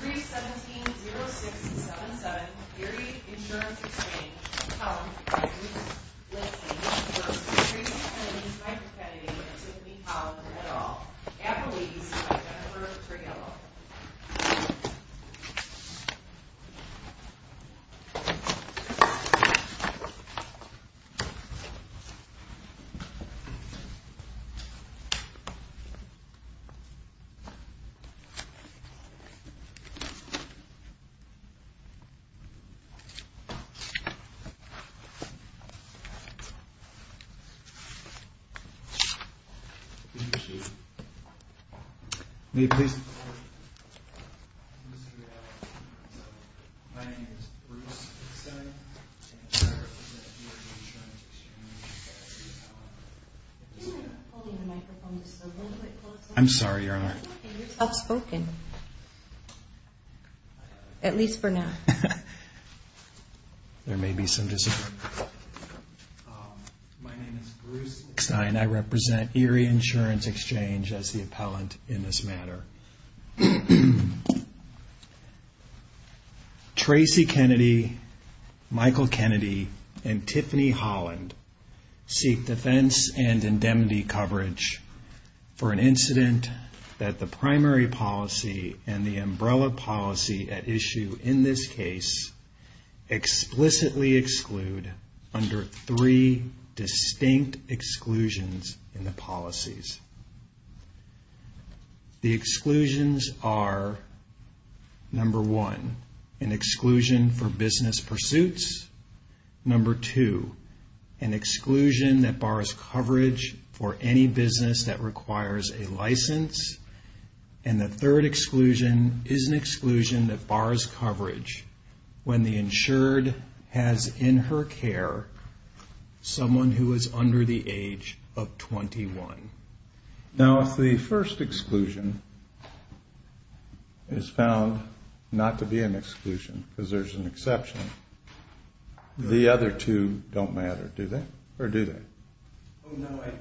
317-0677 Erie Insurance Exchange, Hull, Kansas. Listing of the first three families by Kennedy and Tiffany Hull, et al. Appalachians by Jennifer Tregello. Thank you. May I please? My name is Bruce Simmons, and I represent the Erie Insurance Exchange. I'm sorry, Your Honor. You're outspoken, at least for now. There may be some disagreement. My name is Bruce Eckstein. I represent Erie Insurance Exchange as the appellant in this matter. Tracy Kennedy, Michael Kennedy, and Tiffany Holland seek defense and indemnity coverage for an incident that the primary policy and the umbrella policy at issue in this case explicitly exclude under three distinct exclusions in the policies. The exclusions are, number one, an exclusion for business pursuits. Number two, an exclusion that bars coverage for any business that requires a license. And the third exclusion is an exclusion that bars coverage when the insured has in her care someone who is under the age of 21. Now, if the first exclusion is found not to be an exclusion because there's an exception, the other two don't matter, do they? Or do they? No, I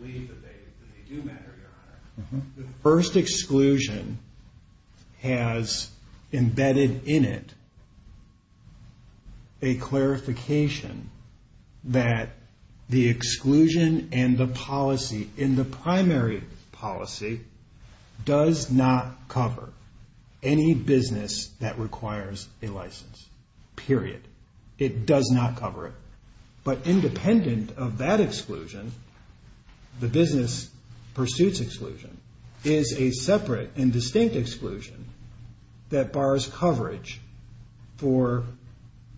believe that they do matter, Your Honor. The first exclusion has embedded in it a clarification that the exclusion and the policy in the primary policy does not cover any business that requires a license, period. It does not cover it. But independent of that exclusion, the business pursuits exclusion, is a separate and distinct exclusion that bars coverage for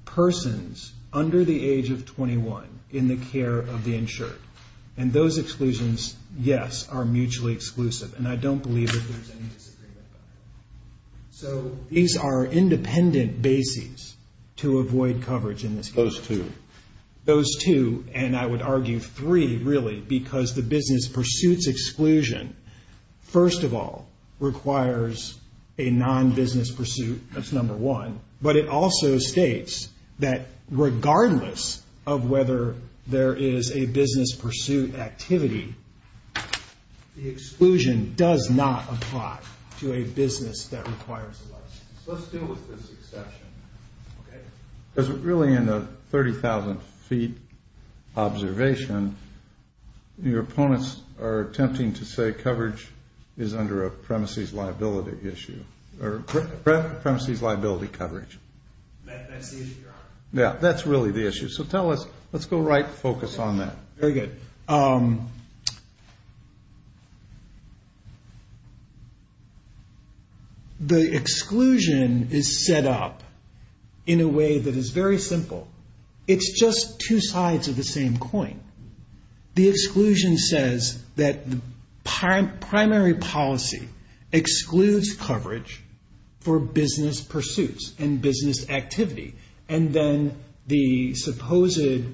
persons under the age of 21 in the care of the insured. And those exclusions, yes, are mutually exclusive. And I don't believe that there's any disagreement about that. So these are independent bases to avoid coverage in this case. Those two. Those two, and I would argue three, really, because the business pursuits exclusion, first of all, requires a non-business pursuit. That's number one. But it also states that regardless of whether there is a business pursuit activity, the exclusion does not apply to a business that requires a license. Let's deal with this exception, okay? Because really in a 30,000-feet observation, your opponents are attempting to say coverage is under a premises liability issue, or premises liability coverage. That's the issue you're on. Yeah, that's really the issue. So tell us, let's go right, focus on that. Very good. The exclusion is set up in a way that is very simple. It's just two sides of the same coin. The exclusion says that the primary policy excludes coverage for business pursuits and business activity. And then the supposed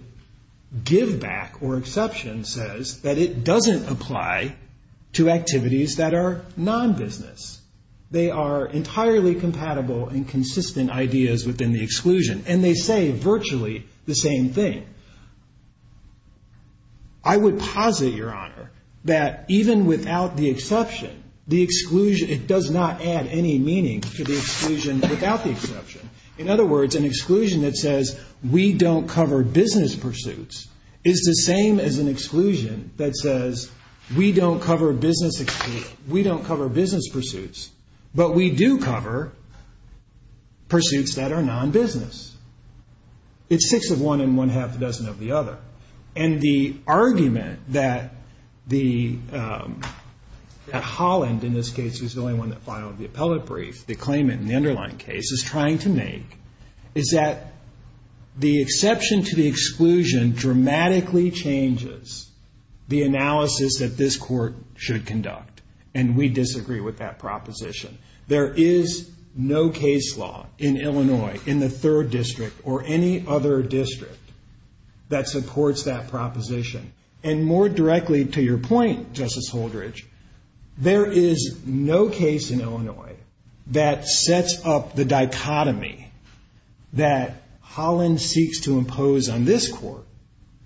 give back or exception says that it doesn't apply to activities that are non-business. They are entirely compatible and consistent ideas within the exclusion. And they say virtually the same thing. I would posit, Your Honor, that even without the exception, the exclusion does not add any meaning to the exclusion without the exception. In other words, an exclusion that says we don't cover business pursuits is the same as an exclusion that says we don't cover business pursuits, but we do cover pursuits that are non-business. It's six of one and one half a dozen of the other. And the argument that Holland, in this case, is the only one that filed the appellate brief, the claimant in the underlying case, is trying to make is that the exception to the exclusion dramatically changes the analysis that this court should conduct. And we disagree with that proposition. There is no case law in Illinois, in the third district, or any other district that supports that proposition. And more directly to your point, Justice Holdridge, there is no case in Illinois that sets up the dichotomy that Holland seeks to impose on this court,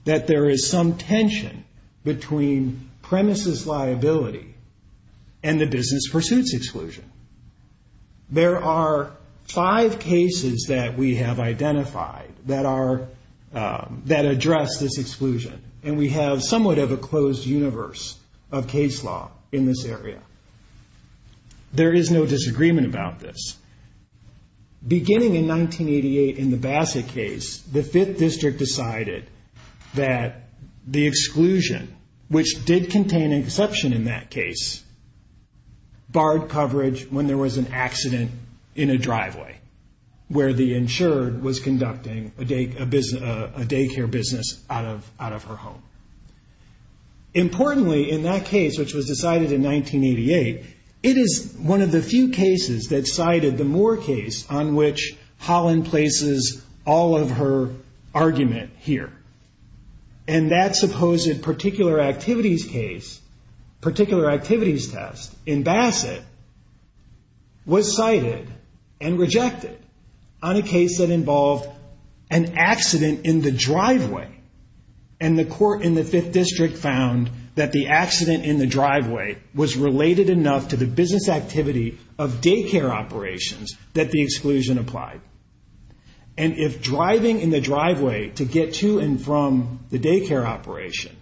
that there is some tension between premises liability and the business pursuits exclusion. There are five cases that we have identified that address this exclusion, and we have somewhat of a closed universe of case law in this area. There is no disagreement about this. Beginning in 1988, in the Bassett case, the fifth district decided that the exclusion, which did contain an exception in that case, barred coverage when there was an accident in a driveway, where the insured was conducting a daycare business out of her home. Importantly, in that case, which was decided in 1988, it is one of the few cases that cited the Moore case on which Holland places all of her argument here. And that supposed particular activities case, particular activities test in Bassett, was cited and rejected on a case that involved an accident in the driveway. And the court in the fifth district found that the accident in the driveway was related enough to the business activity of daycare operations that the exclusion applied. And if driving in the driveway to get to and from the daycare operation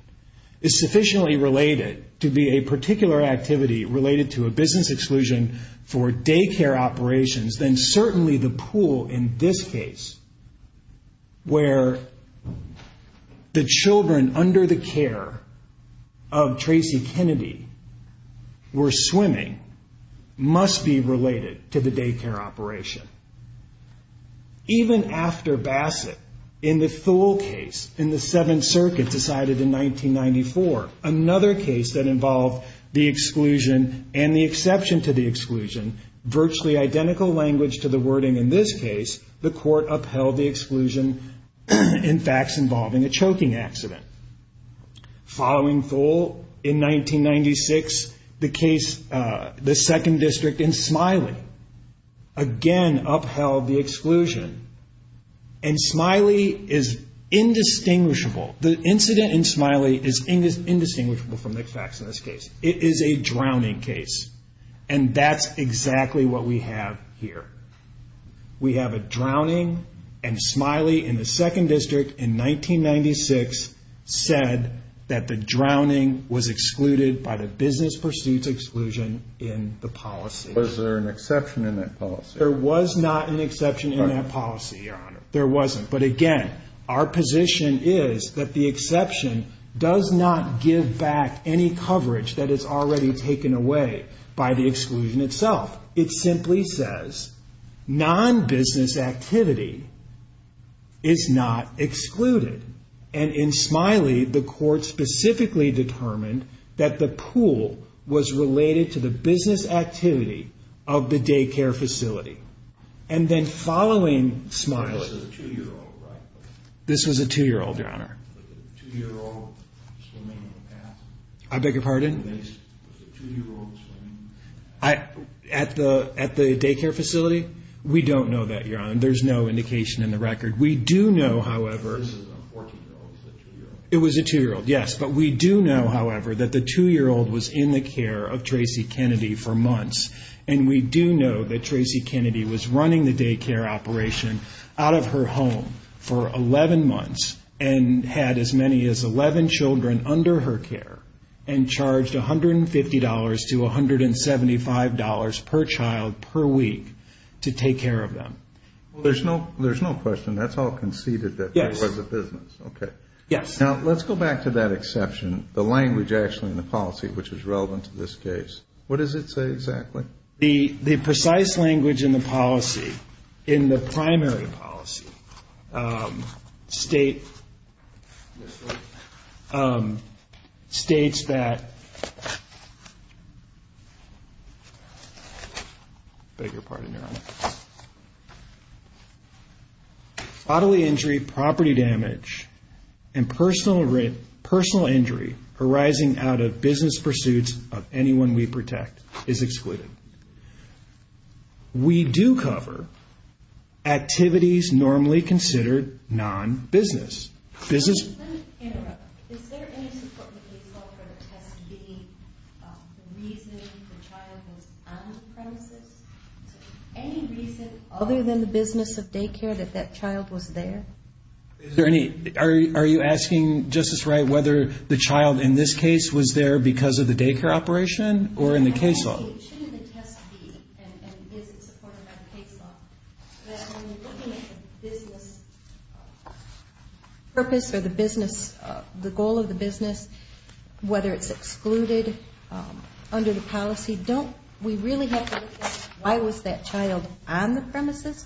is sufficiently related to be a particular activity related to a business exclusion for daycare operations, then certainly the pool in this case, where the children under the care of Tracy Kennedy were swimming, must be related to the daycare operation. Even after Bassett in the Thule case in the Seventh Circuit decided in 1994, another case that involved the exclusion and the exception to the exclusion, virtually identical language to the wording in this case, the court upheld the exclusion in facts involving a choking accident. Following Thule in 1996, the case, the second district in Smiley, again upheld the exclusion. And Smiley is indistinguishable. The incident in Smiley is indistinguishable from the facts in this case. It is a drowning case. And that's exactly what we have here. We have a drowning, and Smiley in the second district in 1996 said that the drowning was excluded by the business pursuits exclusion in the policy. Was there an exception in that policy? There was not an exception in that policy, Your Honor. There wasn't. But again, our position is that the exception does not give back any coverage that is already taken away by the exclusion itself. It simply says non-business activity is not excluded. And in Smiley, the court specifically determined that the pool was related to the business activity of the daycare facility. And then following Smiley. This was a 2-year-old, right? This was a 2-year-old, Your Honor. A 2-year-old swimming in the pass? I beg your pardon? Was it a 2-year-old swimming? At the daycare facility? We don't know that, Your Honor. There's no indication in the record. We do know, however. This is a 14-year-old. It's a 2-year-old. It was a 2-year-old, yes. But we do know, however, that the 2-year-old was in the care of Tracy Kennedy for months. And we do know that Tracy Kennedy was running the daycare operation out of her home for 11 months and had as many as 11 children under her care and charged $150 to $175 per child per week to take care of them. Well, there's no question. That's all conceded that it was a business. Yes. Okay. Yes. Now, let's go back to that exception, the language actually in the policy, which is relevant to this case. What does it say exactly? The precise language in the policy, in the primary policy, states that bodily injury, property damage, and personal injury arising out of business pursuits of anyone we protect is excluded. We do cover activities normally considered non-business. Let me interrupt. Is there any support that we saw for the test being the reason the child was on the premises? Any reason other than the business of daycare that that child was there? Are you asking, Justice Wright, whether the child in this case was there because of the daycare operation or in the case law? Shouldn't the test be, and is it supported by the case law, that when you're looking at the business purpose or the business, the goal of the business, whether it's excluded under the policy, don't we really have to look at why was that child on the premises?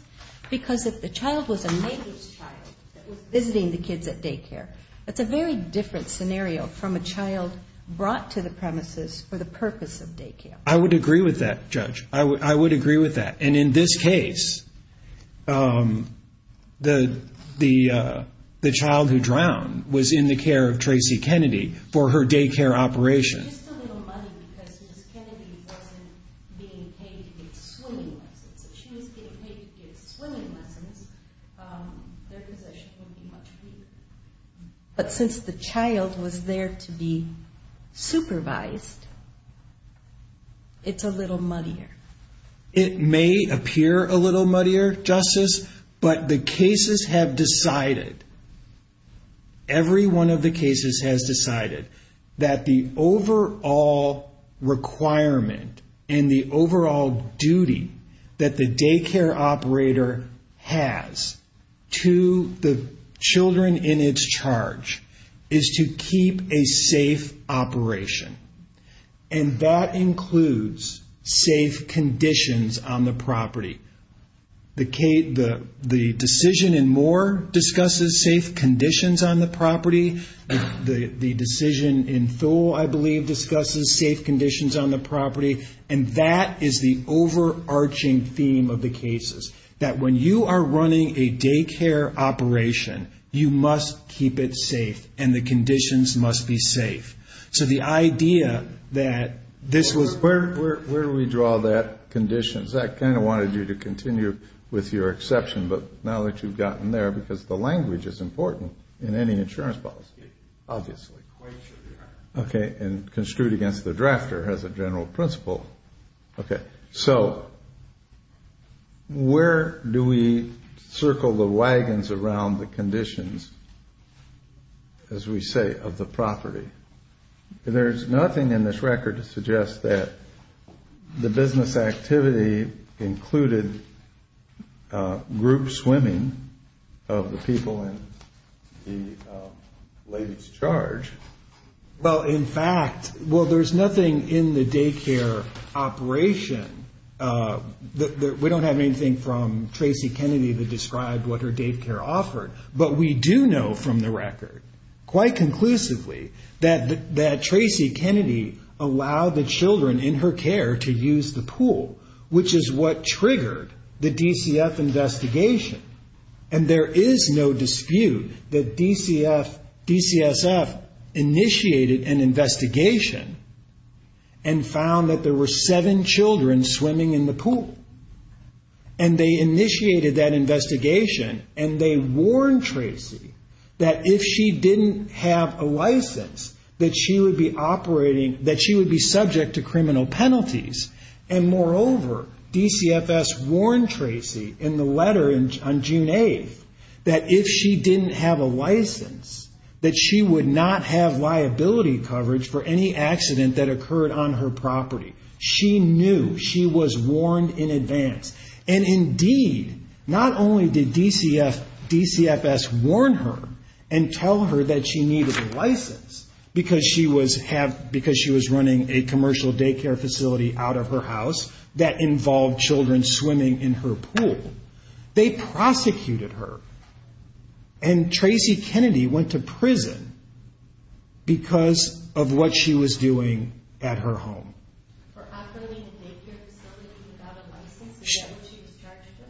Because if the child was a neighbor's child that was visiting the kids at daycare, that's a very different scenario from a child brought to the premises for the purpose of daycare. I would agree with that, Judge. I would agree with that. And in this case, the child who drowned was in the care of Tracy Kennedy for her daycare operation. But since the child was there to be supervised, it's a little muddier. It may appear a little muddier, Justice, but the cases have decided, every one of the cases has decided, that the overall requirement and the overall duty that the daycare operator has to the children in its charge is to keep a safe operation. And that includes safe conditions on the property. The decision in Moore discusses safe conditions on the property. The decision in Thole, I believe, discusses safe conditions on the property. And that is the overarching theme of the cases, that when you are running a daycare operation, you must keep it safe and the conditions must be safe. So the idea that this was... Where do we draw that conditions? I kind of wanted you to continue with your exception, but now that you've gotten there, because the language is important in any insurance policy, obviously. Okay, and construed against the drafter as a general principle. Okay, so where do we circle the wagons around the conditions, as we say, of the property? There's nothing in this record to suggest that the business activity included group swimming of the people in the lady's charge. Well, in fact, well, there's nothing in the daycare operation. We don't have anything from Tracy Kennedy that described what her daycare offered. But we do know from the record, quite conclusively, that Tracy Kennedy allowed the children in her care to use the pool, which is what triggered the DCF investigation. And there is no dispute that DCSF initiated an investigation and found that there were seven children swimming in the pool. And they initiated that investigation and they warned Tracy that if she didn't have a license, that she would be operating, that she would be subject to criminal penalties. And moreover, DCFS warned Tracy in the letter on June 8th, that if she didn't have a license, that she would not have liability coverage for any accident that occurred on her property. She knew. She was warned in advance. And indeed, not only did DCFS warn her and tell her that she needed a license, because she was running a commercial daycare facility out of her house that involved children swimming in her pool, they prosecuted her. And Tracy Kennedy went to prison because of what she was doing at her home. For operating a daycare facility without a license? Is that what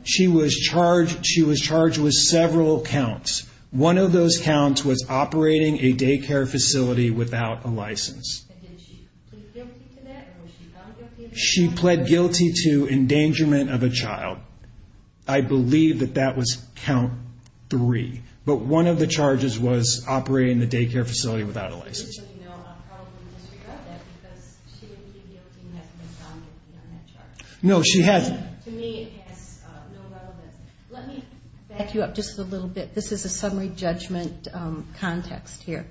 she was charged with? She was charged with several counts. One of those counts was operating a daycare facility without a license. And did she plead guilty to that? Or was she found guilty of that? She pled guilty to endangerment of a child. I believe that that was count three. But one of the charges was operating the daycare facility without a license. So you know, I'll probably disregard that because she would plead guilty and has been found guilty on that charge. No, she has. To me, it has no relevance. Let me back you up just a little bit. This is a summary judgment context here.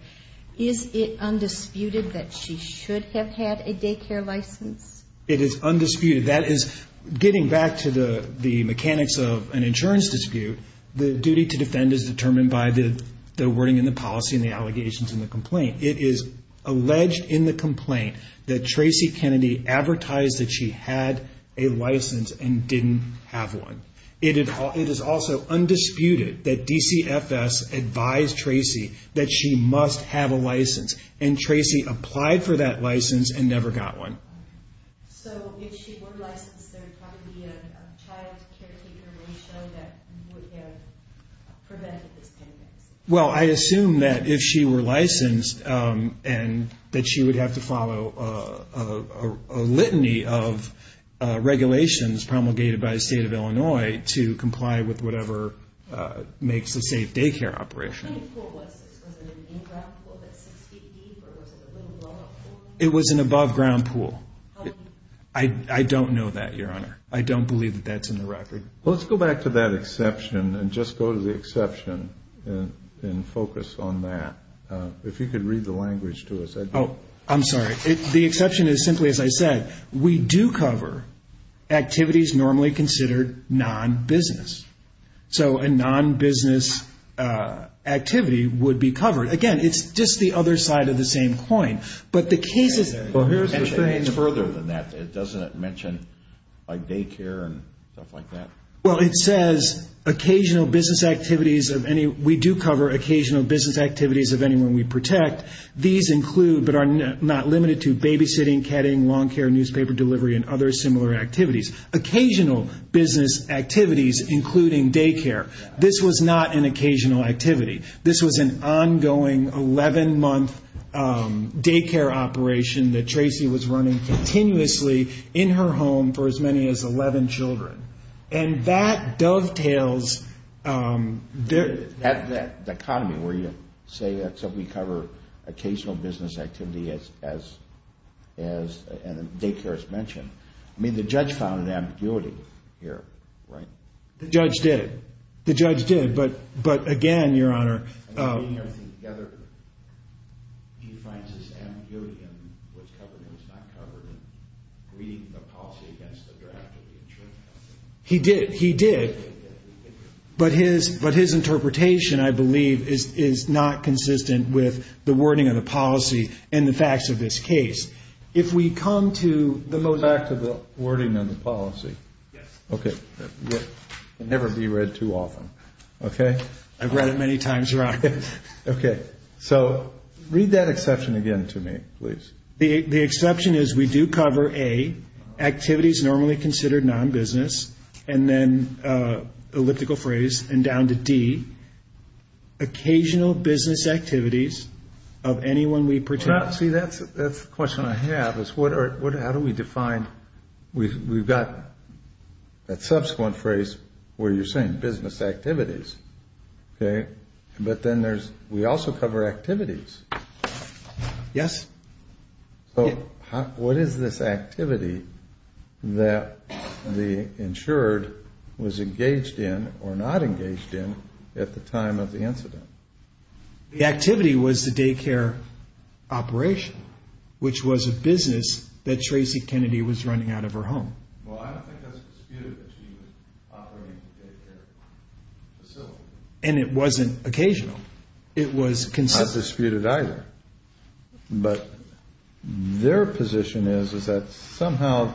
Is it undisputed that she should have had a daycare license? It is undisputed. That is, getting back to the mechanics of an insurance dispute, the duty to defend is determined by the wording in the policy and the allegations in the complaint. It is alleged in the complaint that Tracy Kennedy advertised that she had a license and didn't have one. It is also undisputed that DCFS advised Tracy that she must have a license. And Tracy applied for that license and never got one. So if she were licensed, there would probably be a child caretaker ratio that would have prevented this kind of accident? Well, I assume that if she were licensed and that she would have to follow a litany of regulations promulgated by the State of Illinois to comply with whatever makes a safe daycare operation. What kind of pool was this? Was it an in-ground pool that's six feet deep or was it a little lower pool? It was an above-ground pool. I don't know that, Your Honor. I don't believe that that's in the record. Well, let's go back to that exception and just go to the exception and focus on that. If you could read the language to us. Oh, I'm sorry. The exception is simply, as I said, we do cover activities normally considered non-business. So a non-business activity would be covered. Again, it's just the other side of the same coin. But the case is there. Well, here's the thing. It's further than that. It doesn't mention like daycare and stuff like that. Well, it says occasional business activities of any... We do cover occasional business activities of anyone we protect. These include but are not limited to babysitting, ketting, lawn care, newspaper delivery, and other similar activities. Occasional business activities including daycare. This was not an occasional activity. This was an ongoing 11-month daycare operation that Tracy was running continuously in her home for as many as 11 children. And that dovetails... At that dichotomy where you say we cover occasional business activity as daycare is mentioned. I mean, the judge found an ambiguity here, right? The judge did. The judge did. But again, Your Honor... He did. He did. But his interpretation, I believe, is not consistent with the wording of the policy and the facts of this case. If we come to the motion... Back to the wording of the policy. Yes. Okay. It will never be read too often. Okay? I've read it many times, Your Honor. Okay. So read that exception again to me, please. The exception is we do cover, A, activities normally considered non-business, and then elliptical phrase, and down to D, occasional business activities of anyone we protect. See, that's the question I have is how do we define... We've got that subsequent phrase where you're saying business activities. Okay? But then we also cover activities. Yes. So what is this activity that the insured was engaged in or not engaged in at the time of the incident? The activity was the daycare operation, which was a business that Tracy Kennedy was running out of her home. Well, I don't think that's disputed that she was operating the daycare facility. And it wasn't occasional. It was consistent. That's not disputed either. But their position is is that somehow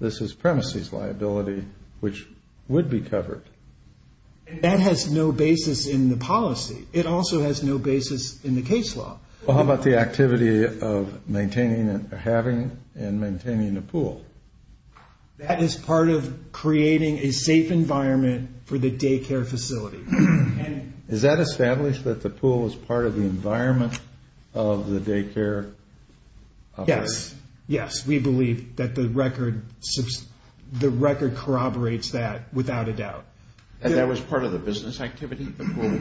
this is premises liability, which would be covered. And that has no basis in the policy. It also has no basis in the case law. Well, how about the activity of maintaining and having and maintaining the pool? That is part of creating a safe environment for the daycare facility. Is that established that the pool was part of the environment of the daycare? Yes. Yes, we believe that the record corroborates that without a doubt. And that was part of the business activity, the pool?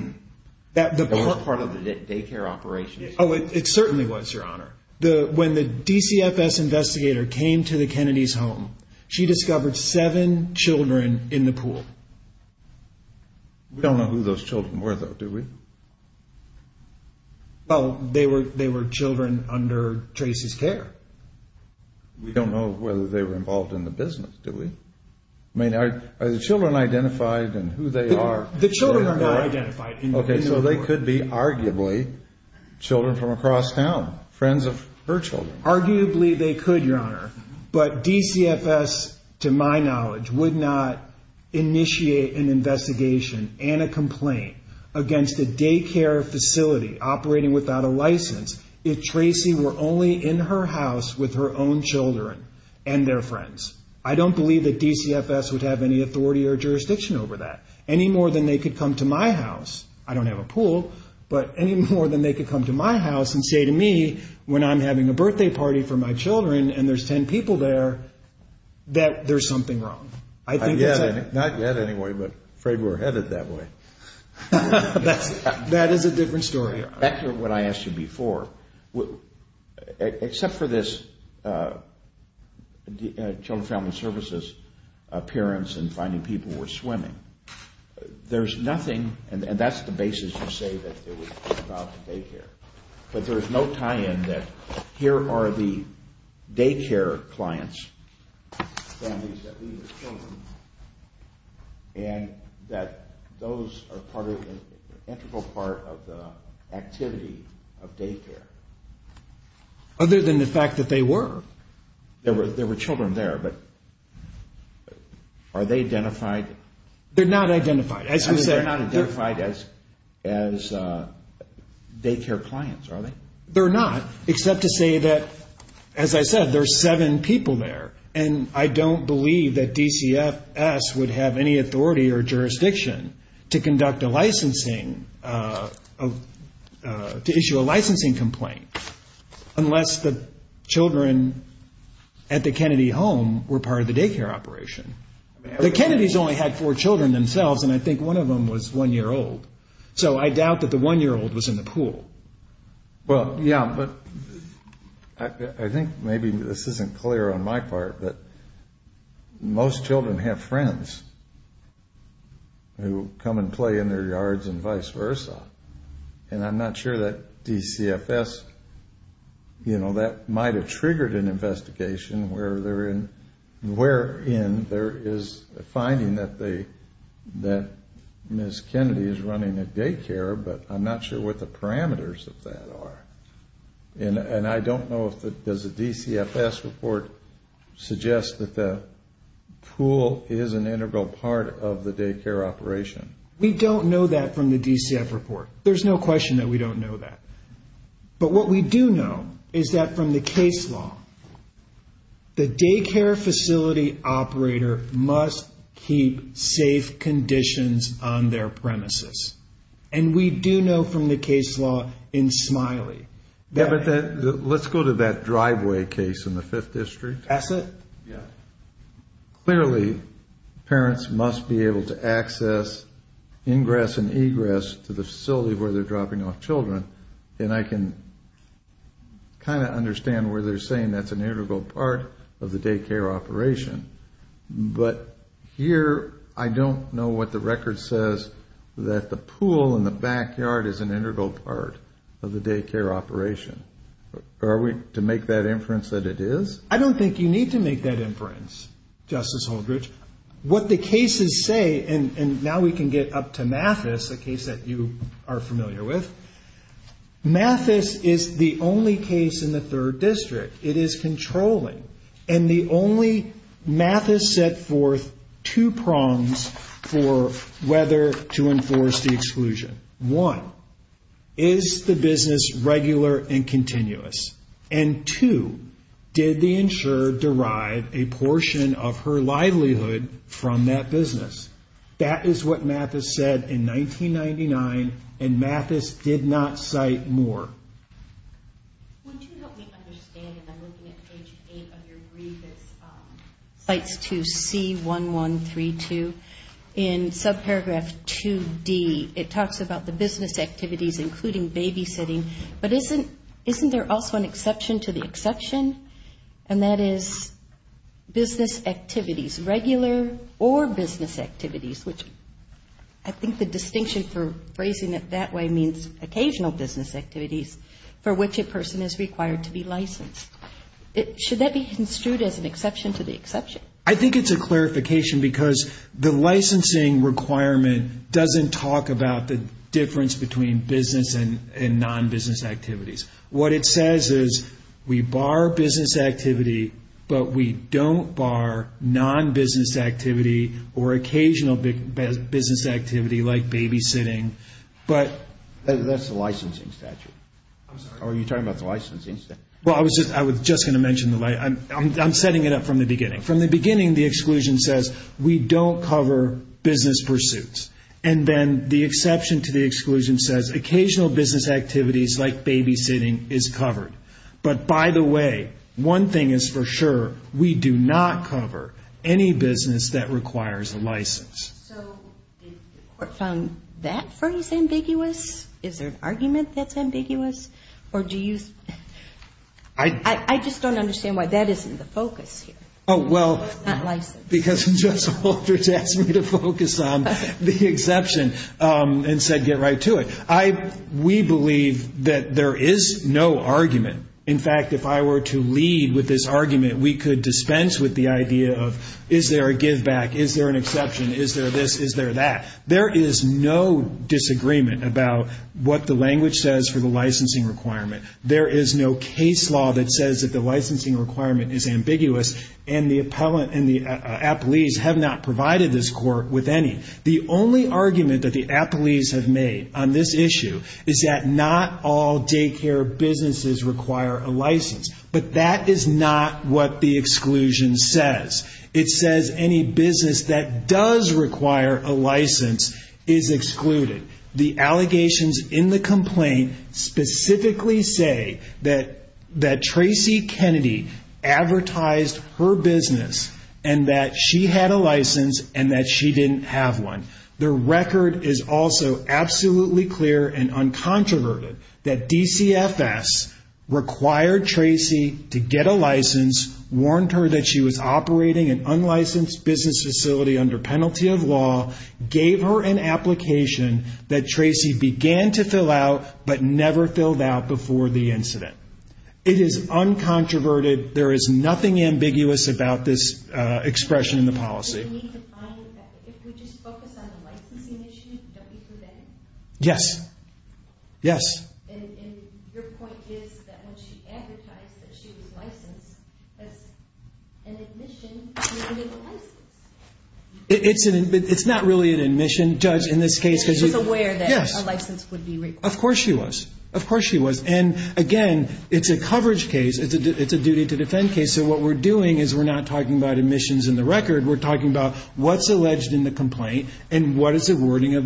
That was part of the daycare operation. Oh, it certainly was, Your Honor. When the DCFS investigator came to the Kennedys' home, she discovered seven children in the pool. We don't know who those children were, though, do we? Well, they were children under Tracy's care. We don't know whether they were involved in the business, do we? I mean, are the children identified and who they are? The children are not identified in the pool. Okay, so they could be arguably children from across town, friends of her children. Arguably they could, Your Honor. But DCFS, to my knowledge, would not initiate an investigation and a complaint against a daycare facility operating without a license if Tracy were only in her house with her own children and their friends. I don't believe that DCFS would have any authority or jurisdiction over that. Any more than they could come to my house. I don't have a pool, but any more than they could come to my house and say to me, when I'm having a birthday party for my children and there's 10 people there, that there's something wrong. Not yet, anyway, but I'm afraid we're headed that way. That is a different story, Your Honor. Back to what I asked you before. Except for this Children's Family Services appearance and finding people were swimming, there's nothing, and that's the basis you say that they were involved in daycare. But there's no tie-in that here are the daycare clients, families that needed children, and that those are part of the integral part of the activity of daycare. Other than the fact that they were. There were children there, but are they identified? They're not identified. They're not identified as daycare clients, are they? They're not, except to say that, as I said, there's seven people there, and I don't believe that DCFS would have any authority or jurisdiction to conduct a licensing, to issue a licensing complaint unless the children at the Kennedy home were part of the daycare operation. The Kennedys only had four children themselves, and I think one of them was one-year-old. So I doubt that the one-year-old was in the pool. Well, yeah, but I think maybe this isn't clear on my part, but most children have friends who come and play in their yards and vice versa, and I'm not sure that DCFS, you know, that might have triggered an investigation wherein there is a finding that Ms. Kennedy is running a daycare, but I'm not sure what the parameters of that are. And I don't know if the DCFS report suggests that the pool is an integral part of the daycare operation. We don't know that from the DCFS report. There's no question that we don't know that. But what we do know is that from the case law, the daycare facility operator must keep safe conditions on their premises. And we do know from the case law in Smiley that... Yeah, but let's go to that driveway case in the Fifth District. Esset? Yeah. Clearly, parents must be able to access ingress and egress to the facility where they're dropping off children, and I can kind of understand where they're saying that's an integral part of the daycare operation. But here I don't know what the record says that the pool in the backyard is an integral part of the daycare operation. Are we to make that inference that it is? I don't think you need to make that inference, Justice Holdridge. What the cases say, and now we can get up to Mathis, a case that you are familiar with. Mathis is the only case in the Third District. It is controlling. And the only Mathis set forth two prongs for whether to enforce the exclusion. One, is the business regular and continuous? And two, did the insurer derive a portion of her livelihood from that business? That is what Mathis said in 1999, and Mathis did not cite more. Would you help me understand, and I'm looking at page 8 of your brief, it cites to C1132 in subparagraph 2D. It talks about the business activities, including babysitting, but isn't there also an exception to the exception? And that is business activities, regular or business activities, which I think the distinction for phrasing it that way means occasional business activities for which a person is required to be licensed. Should that be construed as an exception to the exception? I think it's a clarification because the licensing requirement doesn't talk about the difference between business and non-business activities. What it says is we bar business activity, but we don't bar non-business activity or occasional business activity like babysitting. That's the licensing statute. Are you talking about the licensing statute? Well, I was just going to mention the licensing statute. I'm setting it up from the beginning. From the beginning, the exclusion says we don't cover business pursuits, and then the exception to the exclusion says occasional business activities like babysitting is covered. But by the way, one thing is for sure, we do not cover any business that requires a license. So did the court find that phrase ambiguous? Is there an argument that's ambiguous? I just don't understand why that isn't the focus here. Oh, well, because Judge Holdridge asked me to focus on the exception and said get right to it. We believe that there is no argument. In fact, if I were to lead with this argument, we could dispense with the idea of is there a giveback, is there an exception, is there this, is there that. There is no disagreement about what the language says for the licensing requirement. There is no case law that says that the licensing requirement is ambiguous, and the appellees have not provided this court with any. The only argument that the appellees have made on this issue is that not all daycare businesses require a license. But that is not what the exclusion says. It says any business that does require a license is excluded. The allegations in the complaint specifically say that Tracy Kennedy advertised her business and that she had a license and that she didn't have one. The record is also absolutely clear and uncontroverted that DCFS required Tracy to get a license, warned her that she was operating an unlicensed business facility under penalty of law, gave her an application that Tracy began to fill out but never filled out before the incident. It is uncontroverted. There is nothing ambiguous about this expression in the policy. Yes. Yes. Yes. Yes. Yes. Yes. Yes. Yes. Yes. Yes. Yes.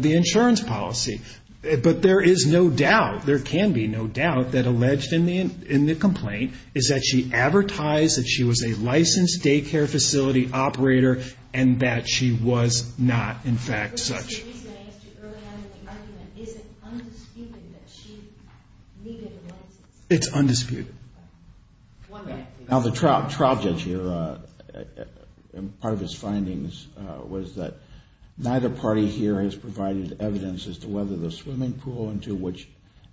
Yes. Yes. But there is no doubt, there can be no doubt that alleged in the complaint is that she advertised that she was a licensed daycare facility operator and that she was not in fact such. The reason I asked you early on in the argument, is it undisputed that she needed a license? It's undisputed. Now the trial judge here, part of his findings was that neither party here has provided evidence as to whether the swimming pool into which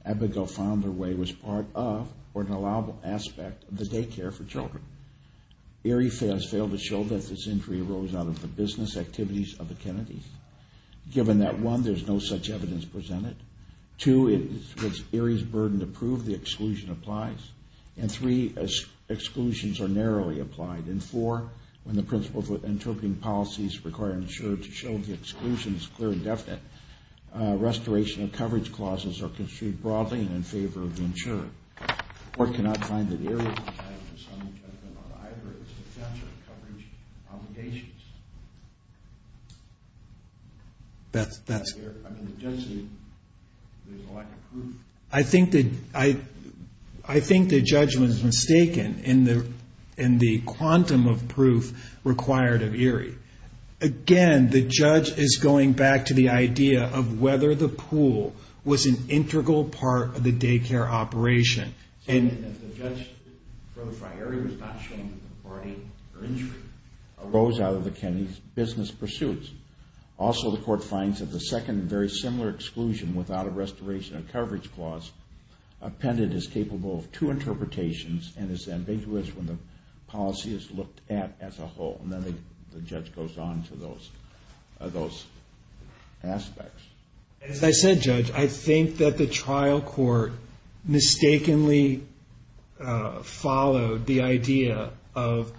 Abigail found her way was part of or an allowable aspect of the daycare for children. Aerie has failed to show that this injury arose out of the business activities of the Kennedys. Given that one, there's no such evidence presented. Two, it's Aerie's burden to prove the exclusion applies. And three, exclusions are narrowly applied. And four, when the principles of interpreting policies require an insurer to show the exclusion is clear and definite, restoration of coverage clauses are construed broadly and in favor of the insurer. I think the judgment is mistaken in the quantum of proof required of Aerie. Again, the judge is going back to the idea of whether the pool was an integral part of the daycare operation. And the judge, for Aerie, was not showing that the party or injury arose out of the Kennedys' business pursuits. Also, the court finds that the second very similar exclusion without a restoration of coverage clause appended is capable of two interpretations and is ambiguous when the policy is looked at as a whole. And then the judge goes on to those aspects. As I said, Judge, I think that the trial court mistakenly followed the idea of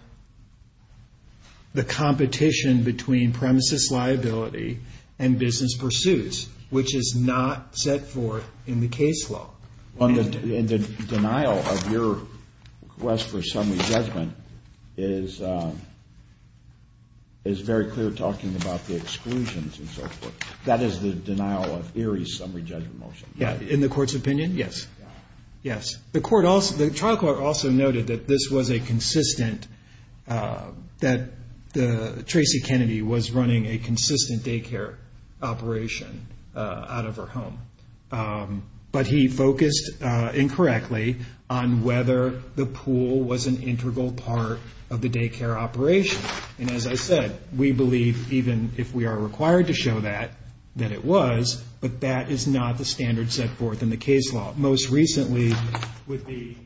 the competition between premises liability and business pursuits, which is not set forth in the case law. And the denial of your request for a summary judgment is very clear talking about the denial of Aerie's summary judgment motion. In the court's opinion, yes. The trial court also noted that Tracy Kennedy was running a consistent daycare operation out of her home. But he focused incorrectly on whether the pool was an integral part of the daycare operation. And as I said, we believe even if we are required to show that, that it was, but that is not the standard set forth in the case law. Most recently would be,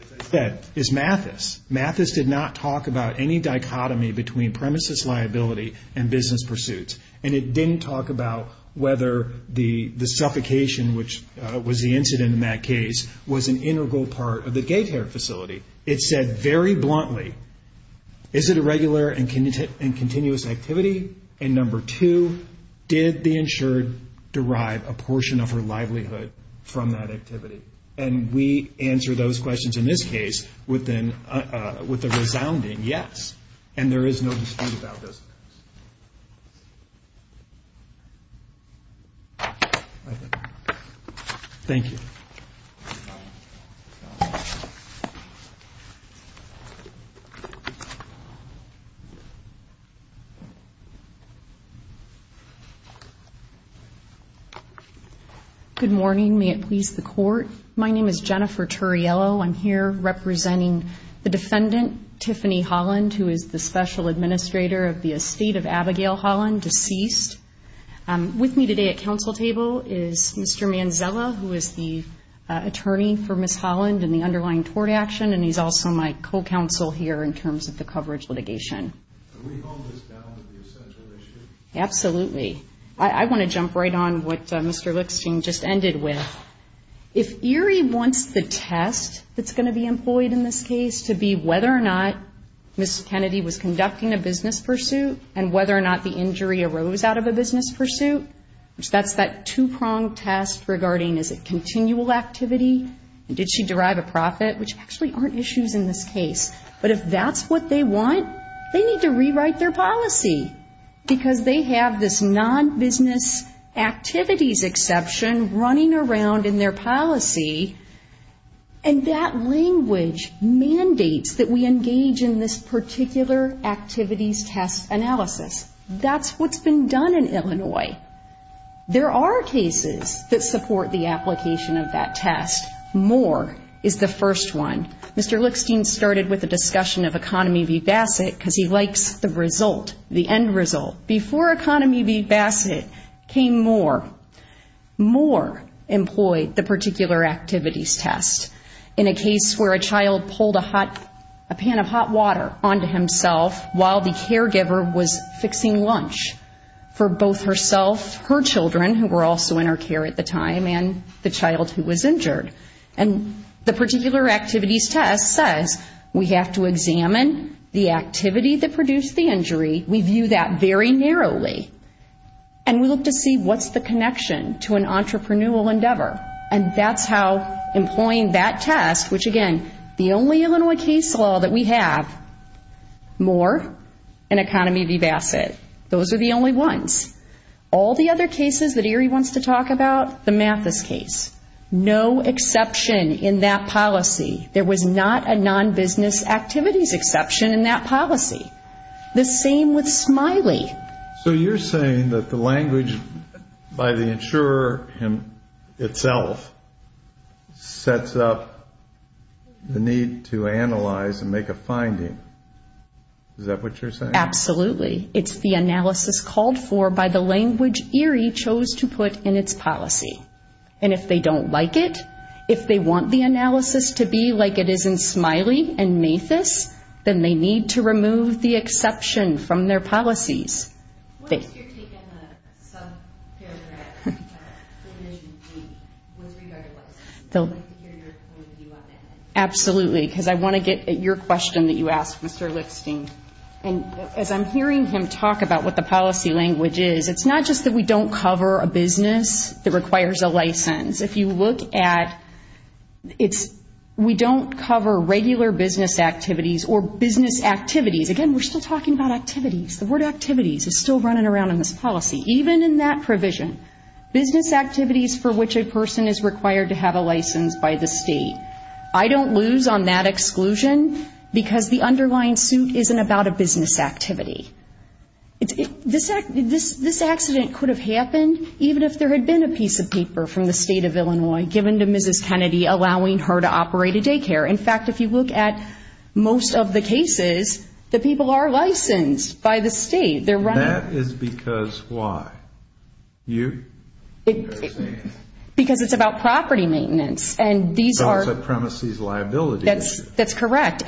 as I said, is Mathis. Mathis did not talk about any dichotomy between premises liability and business pursuits. And it didn't talk about whether the suffocation, which was the incident in that case, was an integral part of the daycare facility. It said very bluntly, is it a regular and continuous activity? And number two, did the insured derive a portion of her livelihood from that activity? And we answer those questions in this case with a resounding yes. And there is no dispute about this. Thank you. Good morning. May it please the court. My name is Jennifer Turriello. I'm here representing the defendant, Tiffany Holland, who is the special administrator of the estate of Abigail Holland, deceased. With me today at council table is Mr. Manzella, who is the attorney for Ms. Holland and the underlying tort action, and he's also my co-counsel here in terms of the coverage litigation. Can we hold this down to the essential issue? Absolutely. I want to jump right on what Mr. Lickstein just ended with. If Erie wants the test that's going to be employed in this case to be whether or not Ms. Kennedy was conducting a business pursuit and whether or not the injury arose out of a business pursuit, which that's that two-pronged test regarding is it continual activity and did she derive a profit, which actually aren't issues in this case. But if that's what they want, they need to rewrite their policy, because they have this non-business activities exception running around in their policy, and that language mandates that we engage in this particular activities test analysis. That's what's been done in Illinois. There are cases that support the application of that test. MORE is the first one. Mr. Lickstein started with a discussion of Economy v. Bassett, because he likes the result, the end result. Before Economy v. Bassett came MORE, MORE employed the particular activities test in a case where a child pulled a hot, a pan of hot water onto himself while the caregiver was fixing lunch for both herself, her children, who were also in her care at the time, and the child who was injured. And the particular activities test says we have to examine the activity that produced the injury. We view that very narrowly, and we look to see what's the connection to an entrepreneurial endeavor, and that's how employing that test, which again, the only Illinois case law that we have, MORE and Economy v. Bassett. Those are the only ones. All the other cases that Erie wants to talk about, the Mathis case. No exception in that policy. There was not a non-business activities exception in that policy. The same with Smiley. So you're saying that the language by the insurer himself sets up the need to analyze and make a finding. Is that what you're saying? Absolutely. It's the analysis called for by the language Erie chose to put in its policy. And if they don't like it, if they want the analysis to be like it is in Smiley and Mathis, then they need to remove the exception from their policies. What if you're taking a subparagraph provision B with regard to licensing? I'd like to hear your point of view on that. Absolutely. Because I want to get at your question that you asked, Mr. Lipstein. And as I'm hearing him talk about what the policy language is, it's not just that we don't cover a business that requires a license. If you look at it's we don't cover regular business activities or business activities. Again, we're still talking about activities. The word activities is still running around in this policy. Even in that provision, business activities for which a person is required to have a license by the state. I don't lose on that exclusion because the underlying suit isn't about a business activity. This accident could have happened even if there had been a piece of paper from the State of Illinois given to Mrs. Kennedy allowing her to operate a daycare. In fact, if you look at most of the cases, the people are licensed by the state. That is because why? You? Because it's about property maintenance. It's a premises liability issue. That's correct.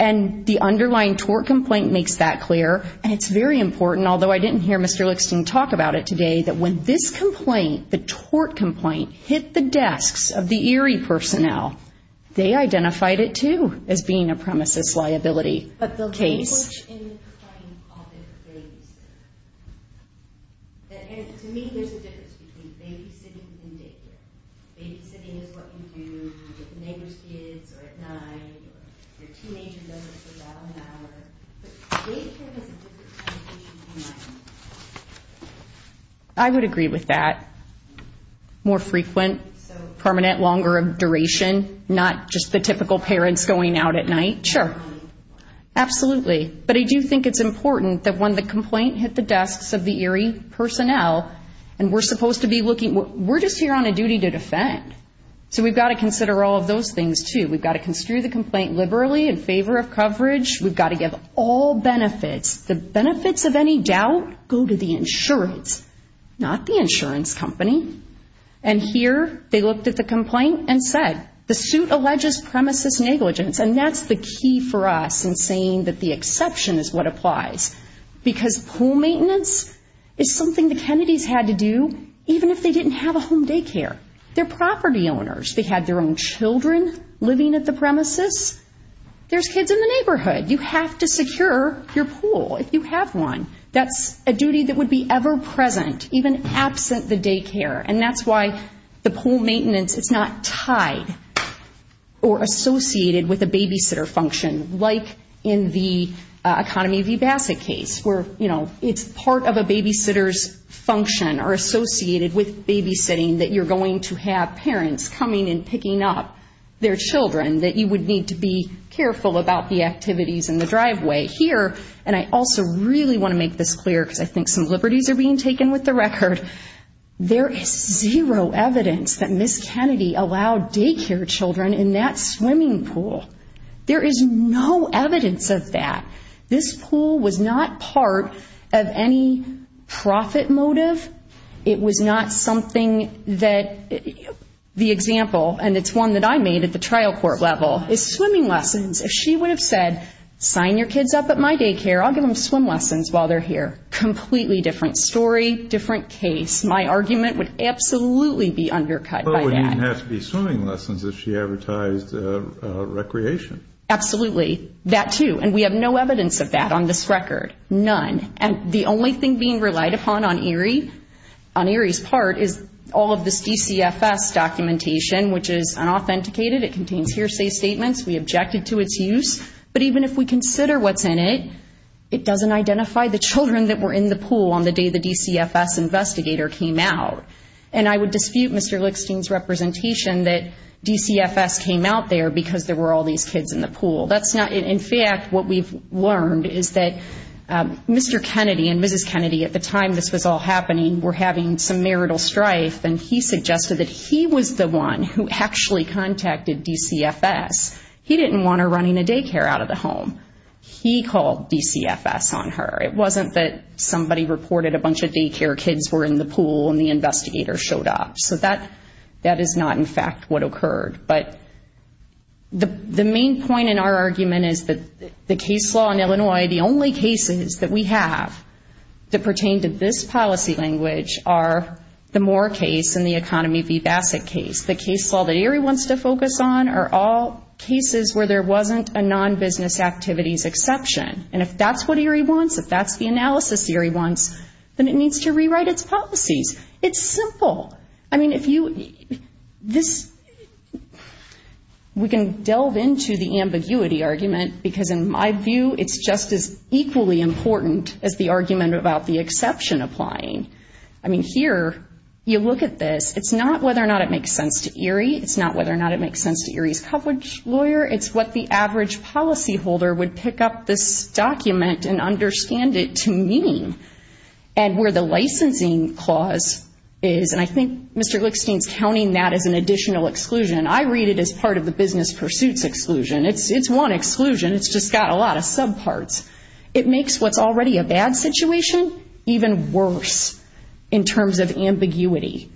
And the underlying tort complaint makes that clear. And it's very important, although I didn't hear Mr. Lipstein talk about it today, that when this complaint, the tort complaint, hit the desks of the ERIE personnel, they identified it, too, as being a premises liability case. To me, there's a difference between babysitting and daycare. Babysitting is what you do with the neighbor's kids or at night or your teenager does it for about an hour. Daycare is a different situation than that. I would agree with that. More frequent, permanent, longer duration, not just the typical parents going out at night. Sure. Absolutely. But I do think it's important that when the complaint hit the desks of the ERIE personnel, and we're supposed to be looking, we're just here on a duty to defend. So we've got to consider all of those things, too. We've got to construe the complaint liberally in favor of coverage. We've got to give all benefits. The benefits of any doubt go to the insurance, not the insurance company. And here they looked at the complaint and said, the suit alleges premises negligence. And that's the key for us in saying that the exception is what applies. Because pool maintenance is something the Kennedys had to do, even if they didn't have a home daycare. They're property owners. They had their own children living at the premises. There's kids in the neighborhood. You have to secure your pool if you have one. That's a duty that would be ever present, even absent the daycare. And that's why the pool maintenance is not tied or associated with a babysitter function, like in the Economy v. Bassett case, where, you know, it's part of a babysitter's function or associated with babysitting, that you're going to have parents coming and picking up their children, that you would need to be careful about the activities in the driveway. Here, and I also really want to make this clear, because I think some liberties are being taken with the record. There is zero evidence that Ms. Kennedy allowed daycare children in that swimming pool. There is no evidence of that. This pool was not part of any profit motive. It was not something that the example, and it's one that I made at the trial court level, is swimming lessons. If she would have said, sign your kids up at my daycare, I'll give them swim lessons while they're here. Completely different story, different case. My argument would absolutely be undercut by that. She didn't have to be swimming lessons if she advertised recreation. Absolutely. That, too. And we have no evidence of that on this record. None. And the only thing being relied upon on Erie's part is all of this DCFS documentation, which is unauthenticated. It contains hearsay statements. We objected to its use. But even if we consider what's in it, it doesn't identify the children that were in the pool on the day the DCFS investigator came out. And I would dispute Mr. Lickstein's representation that DCFS came out there because there were all these kids in the pool. In fact, what we've learned is that Mr. Kennedy and Mrs. Kennedy at the time this was all happening were having some marital strife, and he suggested that he was the one who actually contacted DCFS. He didn't want her running a daycare out of the home. He called DCFS on her. It wasn't that somebody reported a bunch of daycare kids were in the pool and the investigator showed up. So that is not, in fact, what occurred. But the main point in our argument is that the case law in Illinois, the only cases that we have that pertain to this policy language are the Moore case and the Economy v. Bassett case. The case law that Erie wants to focus on are all cases where there wasn't a non-business activities exception. And if that's what Erie wants, if that's the analysis Erie wants, then it needs to rewrite its policies. It's simple. We can delve into the ambiguity argument because in my view it's just as equally important as the argument about the exception applying. Here, you look at this. It's not whether or not it makes sense to Erie. It's not whether or not it makes sense to Erie's coverage lawyer. It's what the average policyholder would pick up this document and understand it to mean. And where the licensing clause is, and I think Mr. Glickstein's counting that as an additional exclusion. I read it as part of the business pursuits exclusion. It's one exclusion. It's just got a lot of subparts. It makes what's already a bad situation even worse in terms of ambiguity.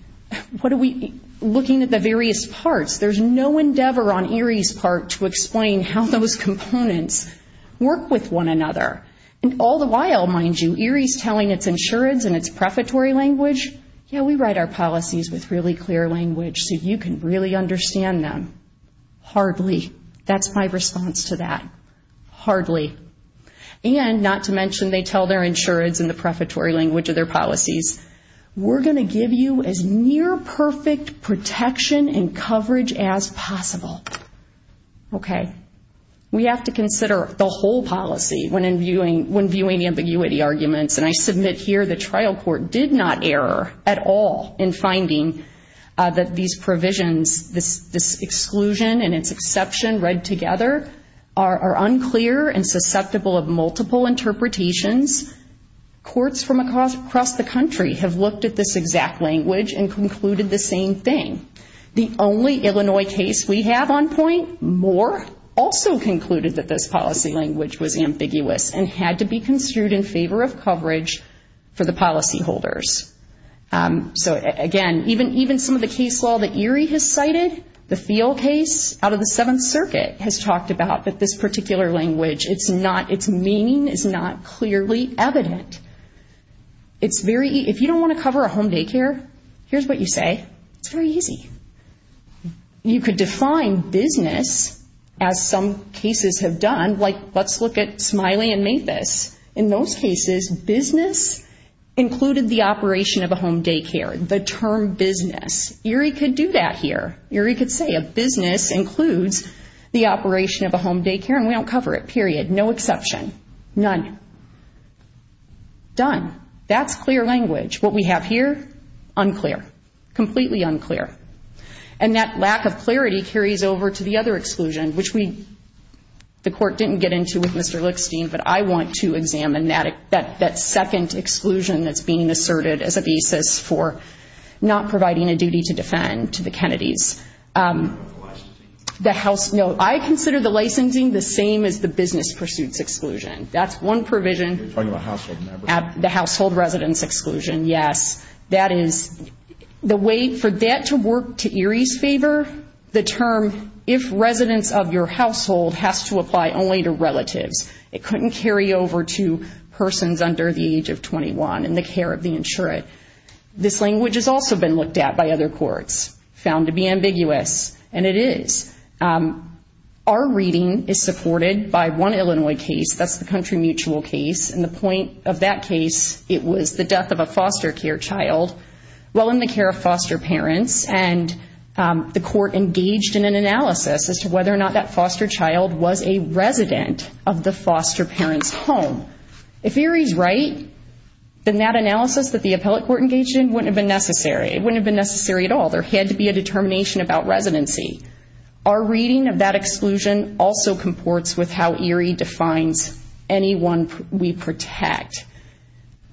Looking at the various parts, there's no endeavor on Erie's part to explain how those components work with one another. And all the while, mind you, Erie's telling its insurance and its prefatory language, yeah, we write our policies with really clear language so you can really understand them. Hardly. That's my response to that. Hardly. And not to mention they tell their insurance in the prefatory language of their policies, we're going to give you as near perfect protection and coverage as possible. We have to consider the whole policy when viewing ambiguity arguments. And I submit here the trial court did not err at all in finding that these provisions, this exclusion and its exception read together, are unclear and susceptible of multiple interpretations. Courts from across the country have looked at this exact language and concluded the same thing. The only Illinois case we have on point, Moore, also concluded that this policy language was ambiguous and had to be construed in favor of coverage for the policyholders. So again, even some of the case law that Erie has cited, the Thiel case out of the Seventh Circuit, has talked about that this particular language, its meaning is not clearly evident. If you don't want to cover a home daycare, here's what you say. It's very easy. You could define business as some cases have done, like let's look at Smiley and Mathis. In those cases, business included the operation of a home daycare. The term business. Erie could do that here. Erie could say a business includes the operation of a home daycare, and we don't cover it, period. No exception. None. Done. That's clear language. What we have here? Unclear. Completely unclear. And that lack of clarity carries over to the other exclusion, which we, the Court didn't get into with Mr. Lickstein, but I want to examine that second exclusion that's being asserted as a basis for not providing a duty to defend to the Kennedys. The house, no, I consider the licensing the same as the business pursuits exclusion. That's one provision. The household residence exclusion, yes. For that to work to Erie's favor, the term if residents of your household has to apply only to relatives. It couldn't carry over to persons under the age of 21 in the care of the insurant. This language has also been looked at by other courts, found to be ambiguous, and it is. Our reading is supported by one Illinois case, that's the country mutual case, and the point of that case, it was the death of a foster care child while in the care of foster parents, and the court engaged in an analysis as to whether or not that foster child was a resident of the foster parent's home. If Erie's right, then that analysis that the appellate court engaged in wouldn't have been necessary. It wouldn't have been necessary at all. There had to be a determination about residency. Our reading of that exclusion also comports with how Erie defines anyone we protect.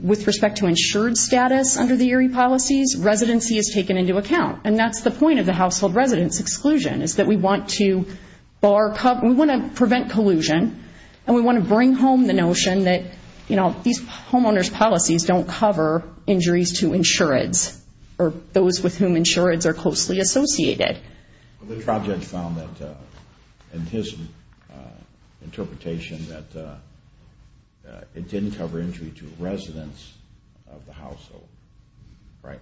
With respect to insured status under the Erie policies, residency is taken into account, and that's the point of the household residence exclusion, is that we want to prevent collusion, and we want to bring home the notion that these homeowners' policies don't cover injuries to insureds or those with whom insureds are closely associated. The trial judge found that, in his interpretation, that it didn't cover injury to residents of the household, right?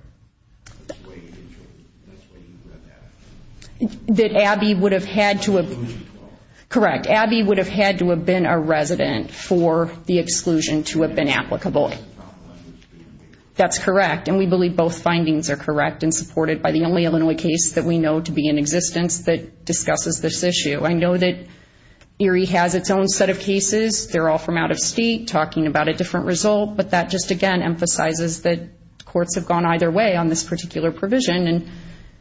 That Abby would have had to have... Correct. Abby would have had to have been a resident for the exclusion to have been applicable. That's correct, and we believe both findings are correct and supported by the only Illinois case that we know to be in existence that discusses this issue. I know that Erie has its own set of cases. They're all from out of state, talking about a different result, but that just, again, emphasizes that courts have gone either way on this particular provision,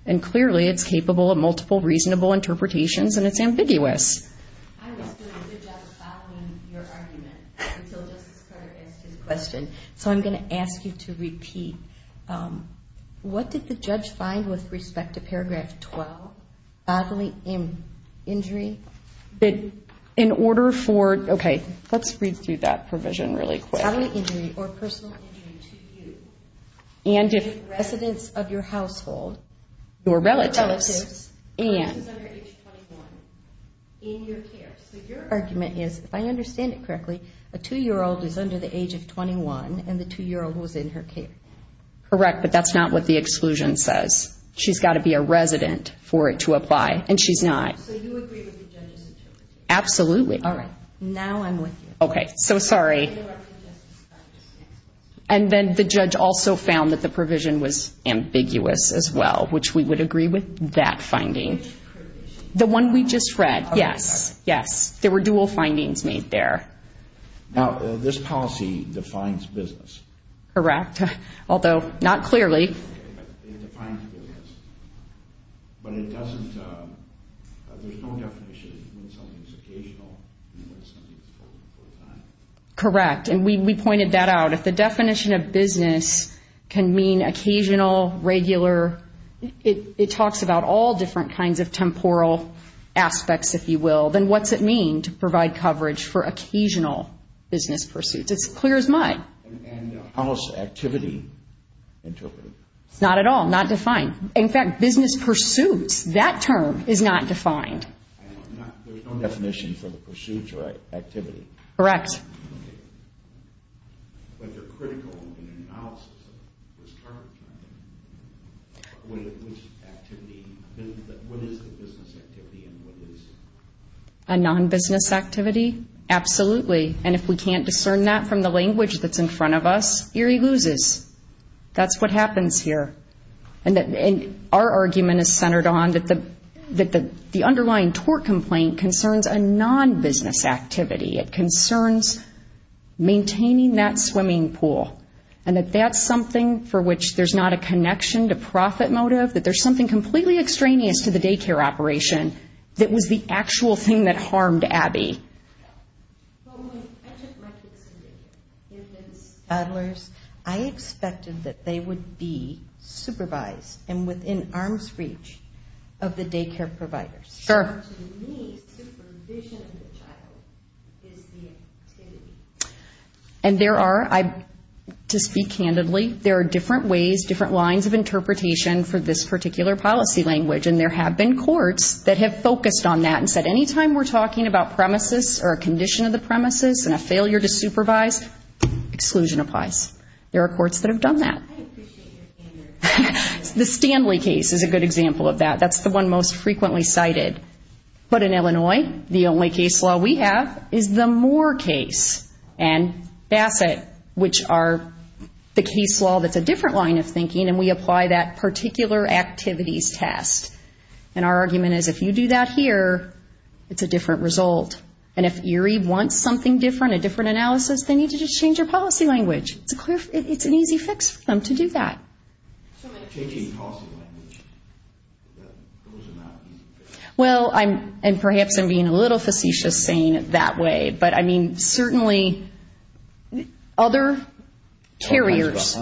and clearly it's capable of multiple reasonable interpretations, and it's ambiguous. I was doing a good job of following your argument until Justice Carter asked his question, what did the judge find with respect to paragraph 12, bodily injury? In order for... Okay, let's read through that provision really quick. And if... So your argument is, if I understand it correctly, a two-year-old is under the age of 21, and the two-year-old was in her care. Correct, but that's not what the exclusion says. She's got to be a resident for it to apply, and she's not. So you agree with the judge's intuition? Absolutely. All right, now I'm with you. And then the judge also found that the provision was ambiguous as well, which we would agree with that finding. Now, this policy defines business. Correct, although not clearly. Okay, but it defines business, but it doesn't... There's no definition when something's occasional and when something's full-time. Correct, and we pointed that out. If the definition of business can mean occasional, regular, it talks about all different kinds of temporal aspects, if you will, then what's it mean to provide coverage for occasional business pursuits? It's clear as mud. It's not at all, not defined. There's no definition for the pursuits or activity. Correct. Okay, but they're critical in analysis. What is the business activity and what is... A non-business activity? Absolutely, and if we can't discern that from the language that's in front of us, Erie loses. That's what happens here, and our argument is centered on that the underlying tort complaint concerns a non-business activity. It concerns maintaining that swimming pool, and that that's something for which there's not a connection to profit motive, that there's something completely extraneous to the daycare operation that was the actual thing that harmed Abby. I took my kids to daycare. Adlers, I expected that they would be supervised and within arm's reach of the daycare providers. To me, supervision of the child is the activity. And there are, to speak candidly, there are different ways, different lines of interpretation for this particular policy language, and there have been courts that have focused on that and said any time we're talking about premises or a condition of the premises and a failure to supervise, exclusion applies. There are courts that have done that. The Stanley case is a good example of that. That's the one most frequently cited. But in Illinois, the only case law we have is the Moore case and Bassett, which are the case law that's a different line of thinking, and we apply that it's a different result. And if Erie wants something different, a different analysis, they need to just change their policy language. It's an easy fix for them to do that. Well, and perhaps I'm being a little facetious saying it that way, but I mean, certainly other carriers.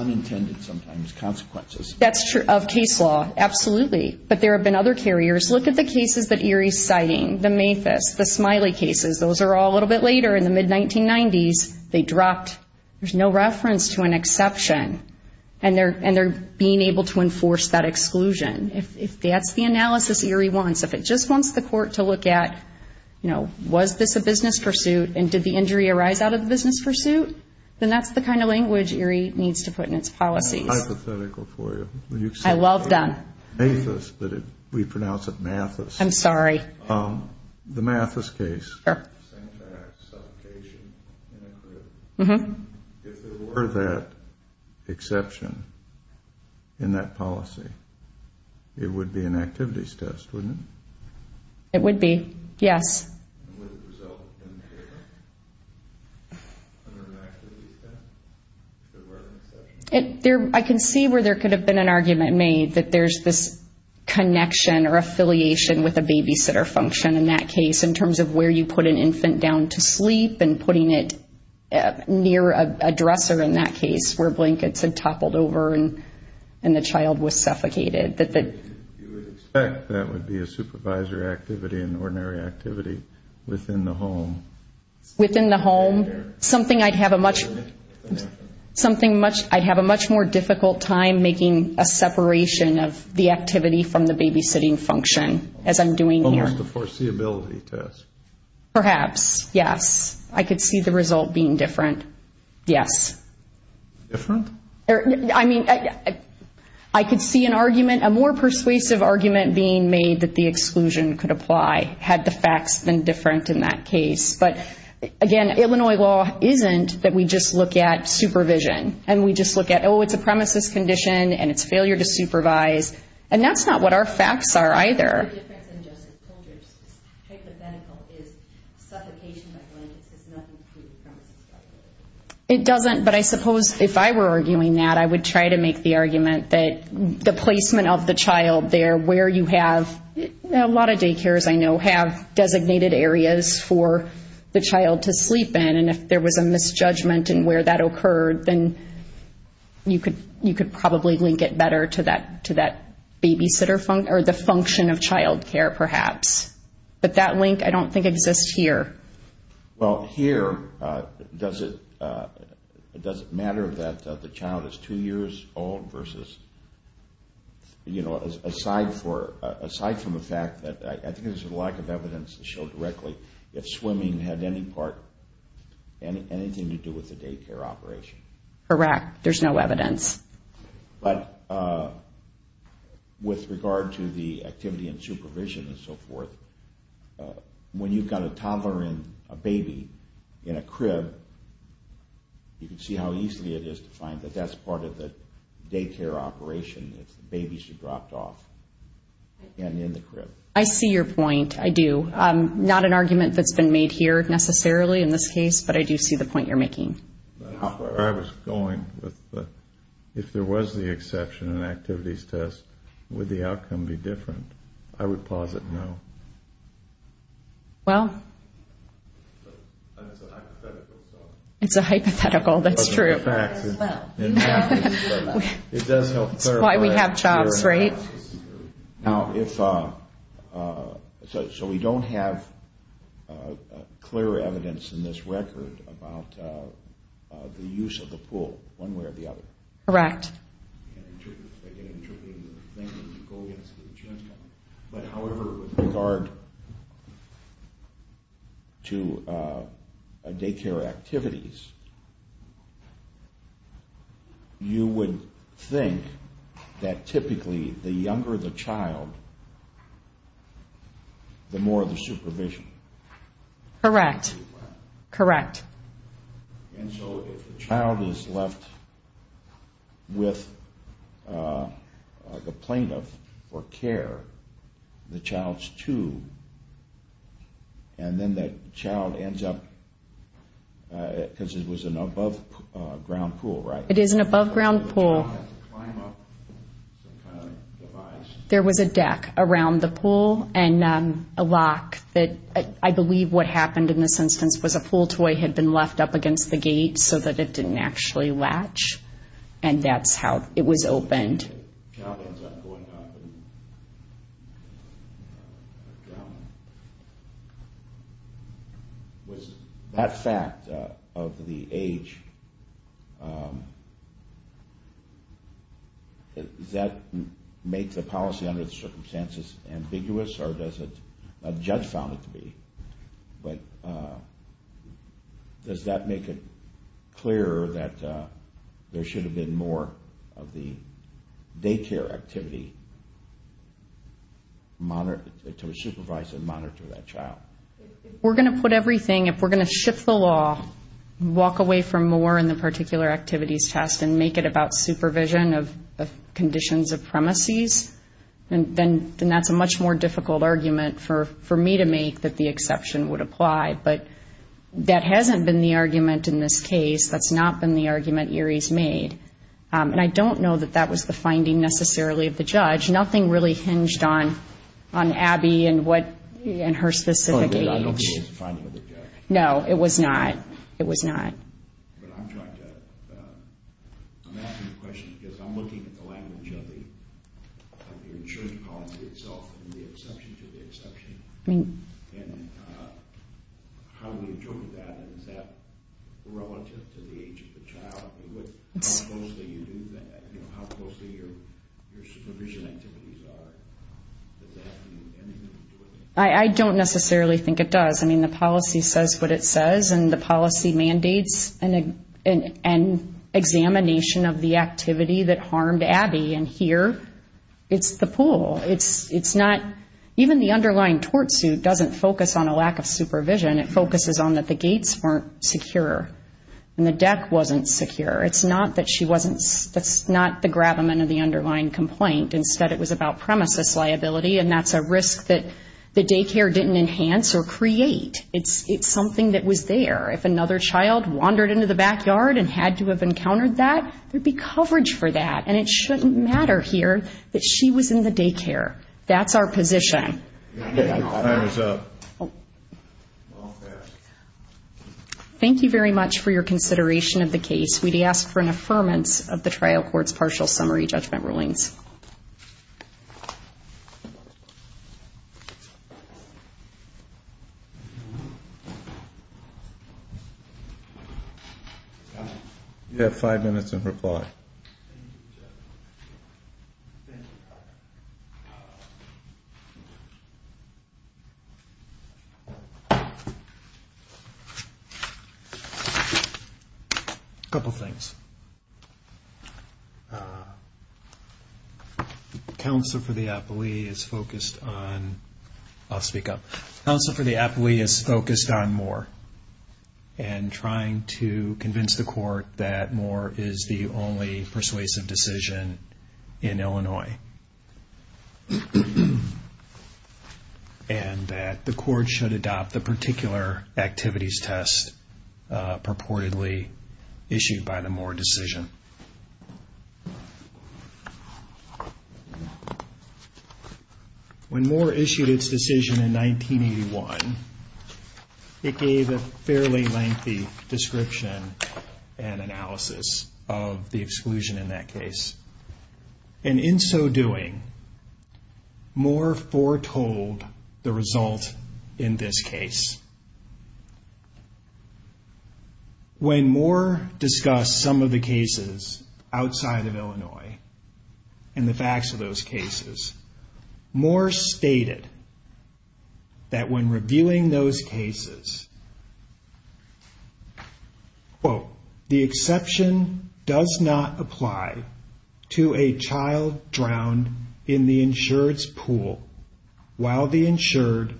That's true of case law, absolutely. But there have been other carriers. Look at the cases that Erie's citing, the Mathis, the Smiley cases. Those are all a little bit later in the mid-1990s. They dropped. There's no reference to an exception. And they're being able to enforce that exclusion. If that's the analysis Erie wants, if it just wants the court to look at, you know, was this a business pursuit and did the injury arise out of the business pursuit, then that's the kind of language Erie needs to put in its policies. That's hypothetical for you. I'm sorry. The Mathis case. If there were that exception in that policy, it would be an activities test, wouldn't it? It would be, yes. Would it result in impairment under an activities test? If there were an exception? I can see where there could have been an argument made that there's this connection or affiliation with a babysitter function in that case in terms of where you put an infant down to sleep and putting it near a dresser in that case where blankets had toppled over and the child was suffocated. You would expect that would be a supervisor activity, an ordinary activity within the home. Within the home? Something I'd have a much more difficult time making a separation of the activity from the babysitting function as I'm doing here. Almost a foreseeability test. Perhaps, yes. I could see the result being different, yes. Different? I could see an argument, a more persuasive argument being made that the exclusion could apply had the facts been different in that case. But again, Illinois law isn't that we just look at supervision. And we just look at, oh, it's a premises condition and it's failure to supervise. And that's not what our facts are either. It doesn't, but I suppose if I were arguing that, I would try to make the argument that the placement of the child there where you have, a lot of daycares I know have designated areas for the child to sleep in. And if there was a misjudgment in where that occurred, then you could probably link it better to that babysitter or the function of child care perhaps. But that link I don't think exists here. Well, here, does it matter that the child is two years old versus, you know, aside from the fact that, I think there's a lack of evidence to show directly if swimming had any part, anything to do with the daycare operation. Correct. There's no evidence. But with regard to the activity and supervision and so forth, when you've got a toddler and a baby in a crib, you can see how easy it is to find that that's part of the daycare operation. If the babies are dropped off and in the crib. I see your point. I do. Not an argument that's been made here necessarily in this case, but I do see the point you're making. I was going with if there was the exception in activities test, would the outcome be different? I would posit no. Well, it's a hypothetical. That's true. It's why we have jobs, right? So we don't have clear evidence in this record about the use of the pool one way or the other. Correct. But however, with regard to daycare activities, you would think that typically the use of the pool would be different. The younger the child, the more the supervision. Correct. And so if the child is left with the plaintiff for care, the child's two, and then that child ends up, because it was an above ground pool, right? It is an above ground pool. There was a deck around the pool and a lock that I believe what happened in this instance was a pool toy had been left up against the gate so that it didn't actually latch. And that's how it was opened. The child ends up going up and down. Was that fact of the age, does that make the policy under the circumstances ambiguous or does a judge found it to be? But does that make it clear that there should have been more of the age of the child? If we're going to put everything, if we're going to shift the law, walk away from more in the particular activities test and make it about supervision of conditions of premises, then that's a much more difficult argument for me to make that the exception would apply. But that hasn't been the argument in this case. That's not been the argument Erie's made. And I don't know that that was the finding necessarily of the judge. Nothing really hinged on Abby and her specific age. No, it was not. I don't necessarily think it does. I mean, the policy says what it says and the policy mandates an examination of the activity that harmed Abby. And here it's the pool. It's not, even the underlying tort suit doesn't focus on a lack of supervision. It's not that the deck wasn't secure. It's not that she wasn't, that's not the grab-a-ment of the underlying complaint. Instead, it was about premises liability, and that's a risk that the daycare didn't enhance or create. It's something that was there. If another child wandered into the backyard and had to have encountered that, there'd be coverage for that. And it shouldn't matter here that she was in the daycare. That's our position. Thank you very much for your consideration of the case. We'd ask for an affirmance of the trial court's partial summary judgment rulings. Thank you. A couple things. Counsel for the appellee is focused on, I'll speak up. Counsel for the appellee is focused on Moore and trying to convince the court that Moore is the only persuasive decision. in Illinois. And that the court should adopt the particular activities test purportedly issued by the Moore decision. When Moore issued its decision in 1981, it gave a fairly lengthy description and analysis of the exclusion in that case. And in so doing, Moore foretold the result in this case. When Moore discussed some of the cases outside of Illinois and the facts of those cases, Moore stated that when reviewing those cases, quote, the exception does not apply to a child drowned in the insured's pool while the insured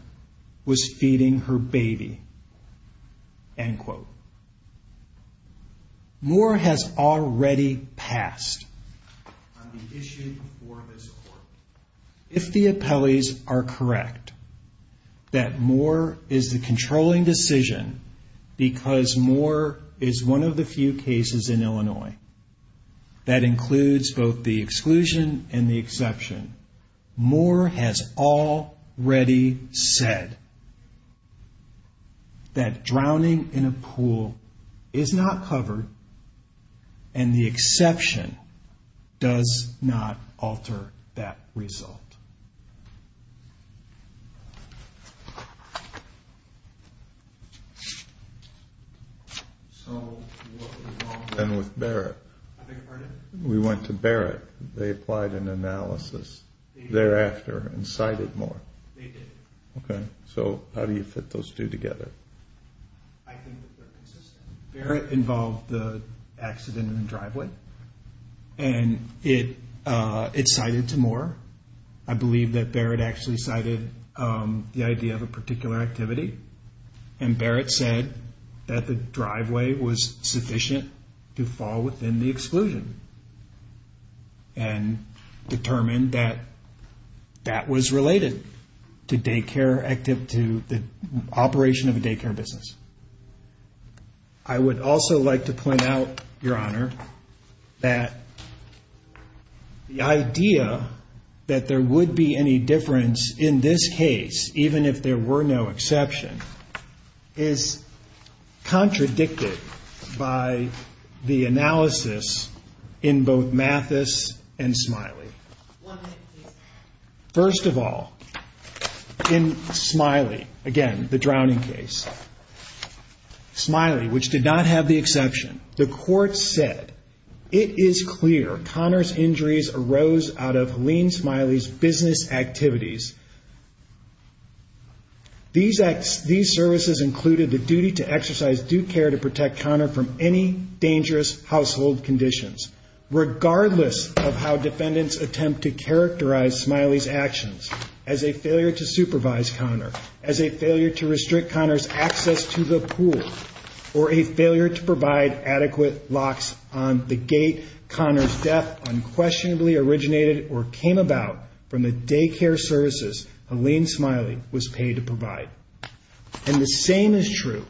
was feeding her baby. End quote. Moore has already passed on the issue before this court. If the appellees are correct that Moore is the controlling decision because Moore is one of the few cases in Illinois that includes both the exclusion and the exception, Moore has already said that drowning in a pool is not covered and the exception does not alter that. That is the result. And with Barrett, we went to Barrett. They applied an analysis thereafter and cited Moore. So how do you fit those two together? I think that they're consistent. Barrett involved the accident in the driveway. And it cited to Moore. I believe that Barrett actually cited the idea of a particular activity. And Barrett said that the driveway was sufficient to fall within the exclusion. And determined that that was related to daycare, to the operation of a daycare facility. And that the drowning was not a part of the daycare business. I would also like to point out, Your Honor, that the idea that there would be any difference in this case, even if there were no exception, is contradicted by the analysis in both Mathis and Smiley. First of all, in Smiley, again, the drowning case, Smiley, which did not have the exception, the court said, it is clear Conner's injuries arose out of Helene Smiley's business activities. These services included the duty to exercise due care to protect Conner from any dangerous household conditions. Regardless of how defendants attempt to characterize Smiley's actions as a failure to supervise Conner, as a failure to restrict Conner's access to the pool, or a failure to provide adequate locks on the gate, Conner's death unquestionably originated or came about from the daycare services Helene Smiley was paid to provide. And the same is true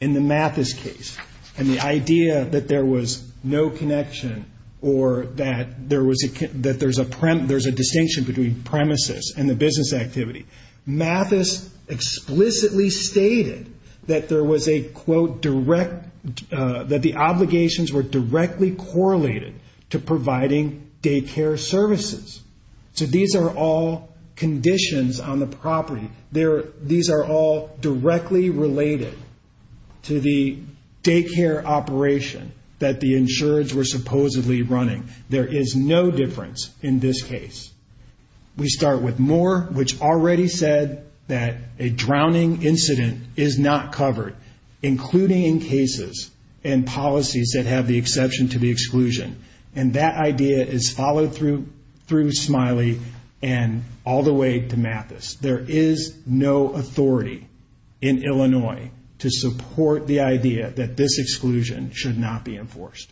in the Mathis case. And the idea that there was no connection or that there's a distinction between premises and the business activity, Mathis explicitly stated that there was a, quote, direct, that the obligations were directly correlated to providing daycare services. So these are all conditions on the property. These are all directly related to the daycare operation that the insureds were supposedly running. There is no difference in this case. We start with Moore, which already said that a drowning incident is not covered, including in cases and policies that have the exception to the exclusion. And that idea is followed through Smiley and all the way to Mathis. There is no authority in Illinois to support the idea that this exclusion should not be enforced. Thank you.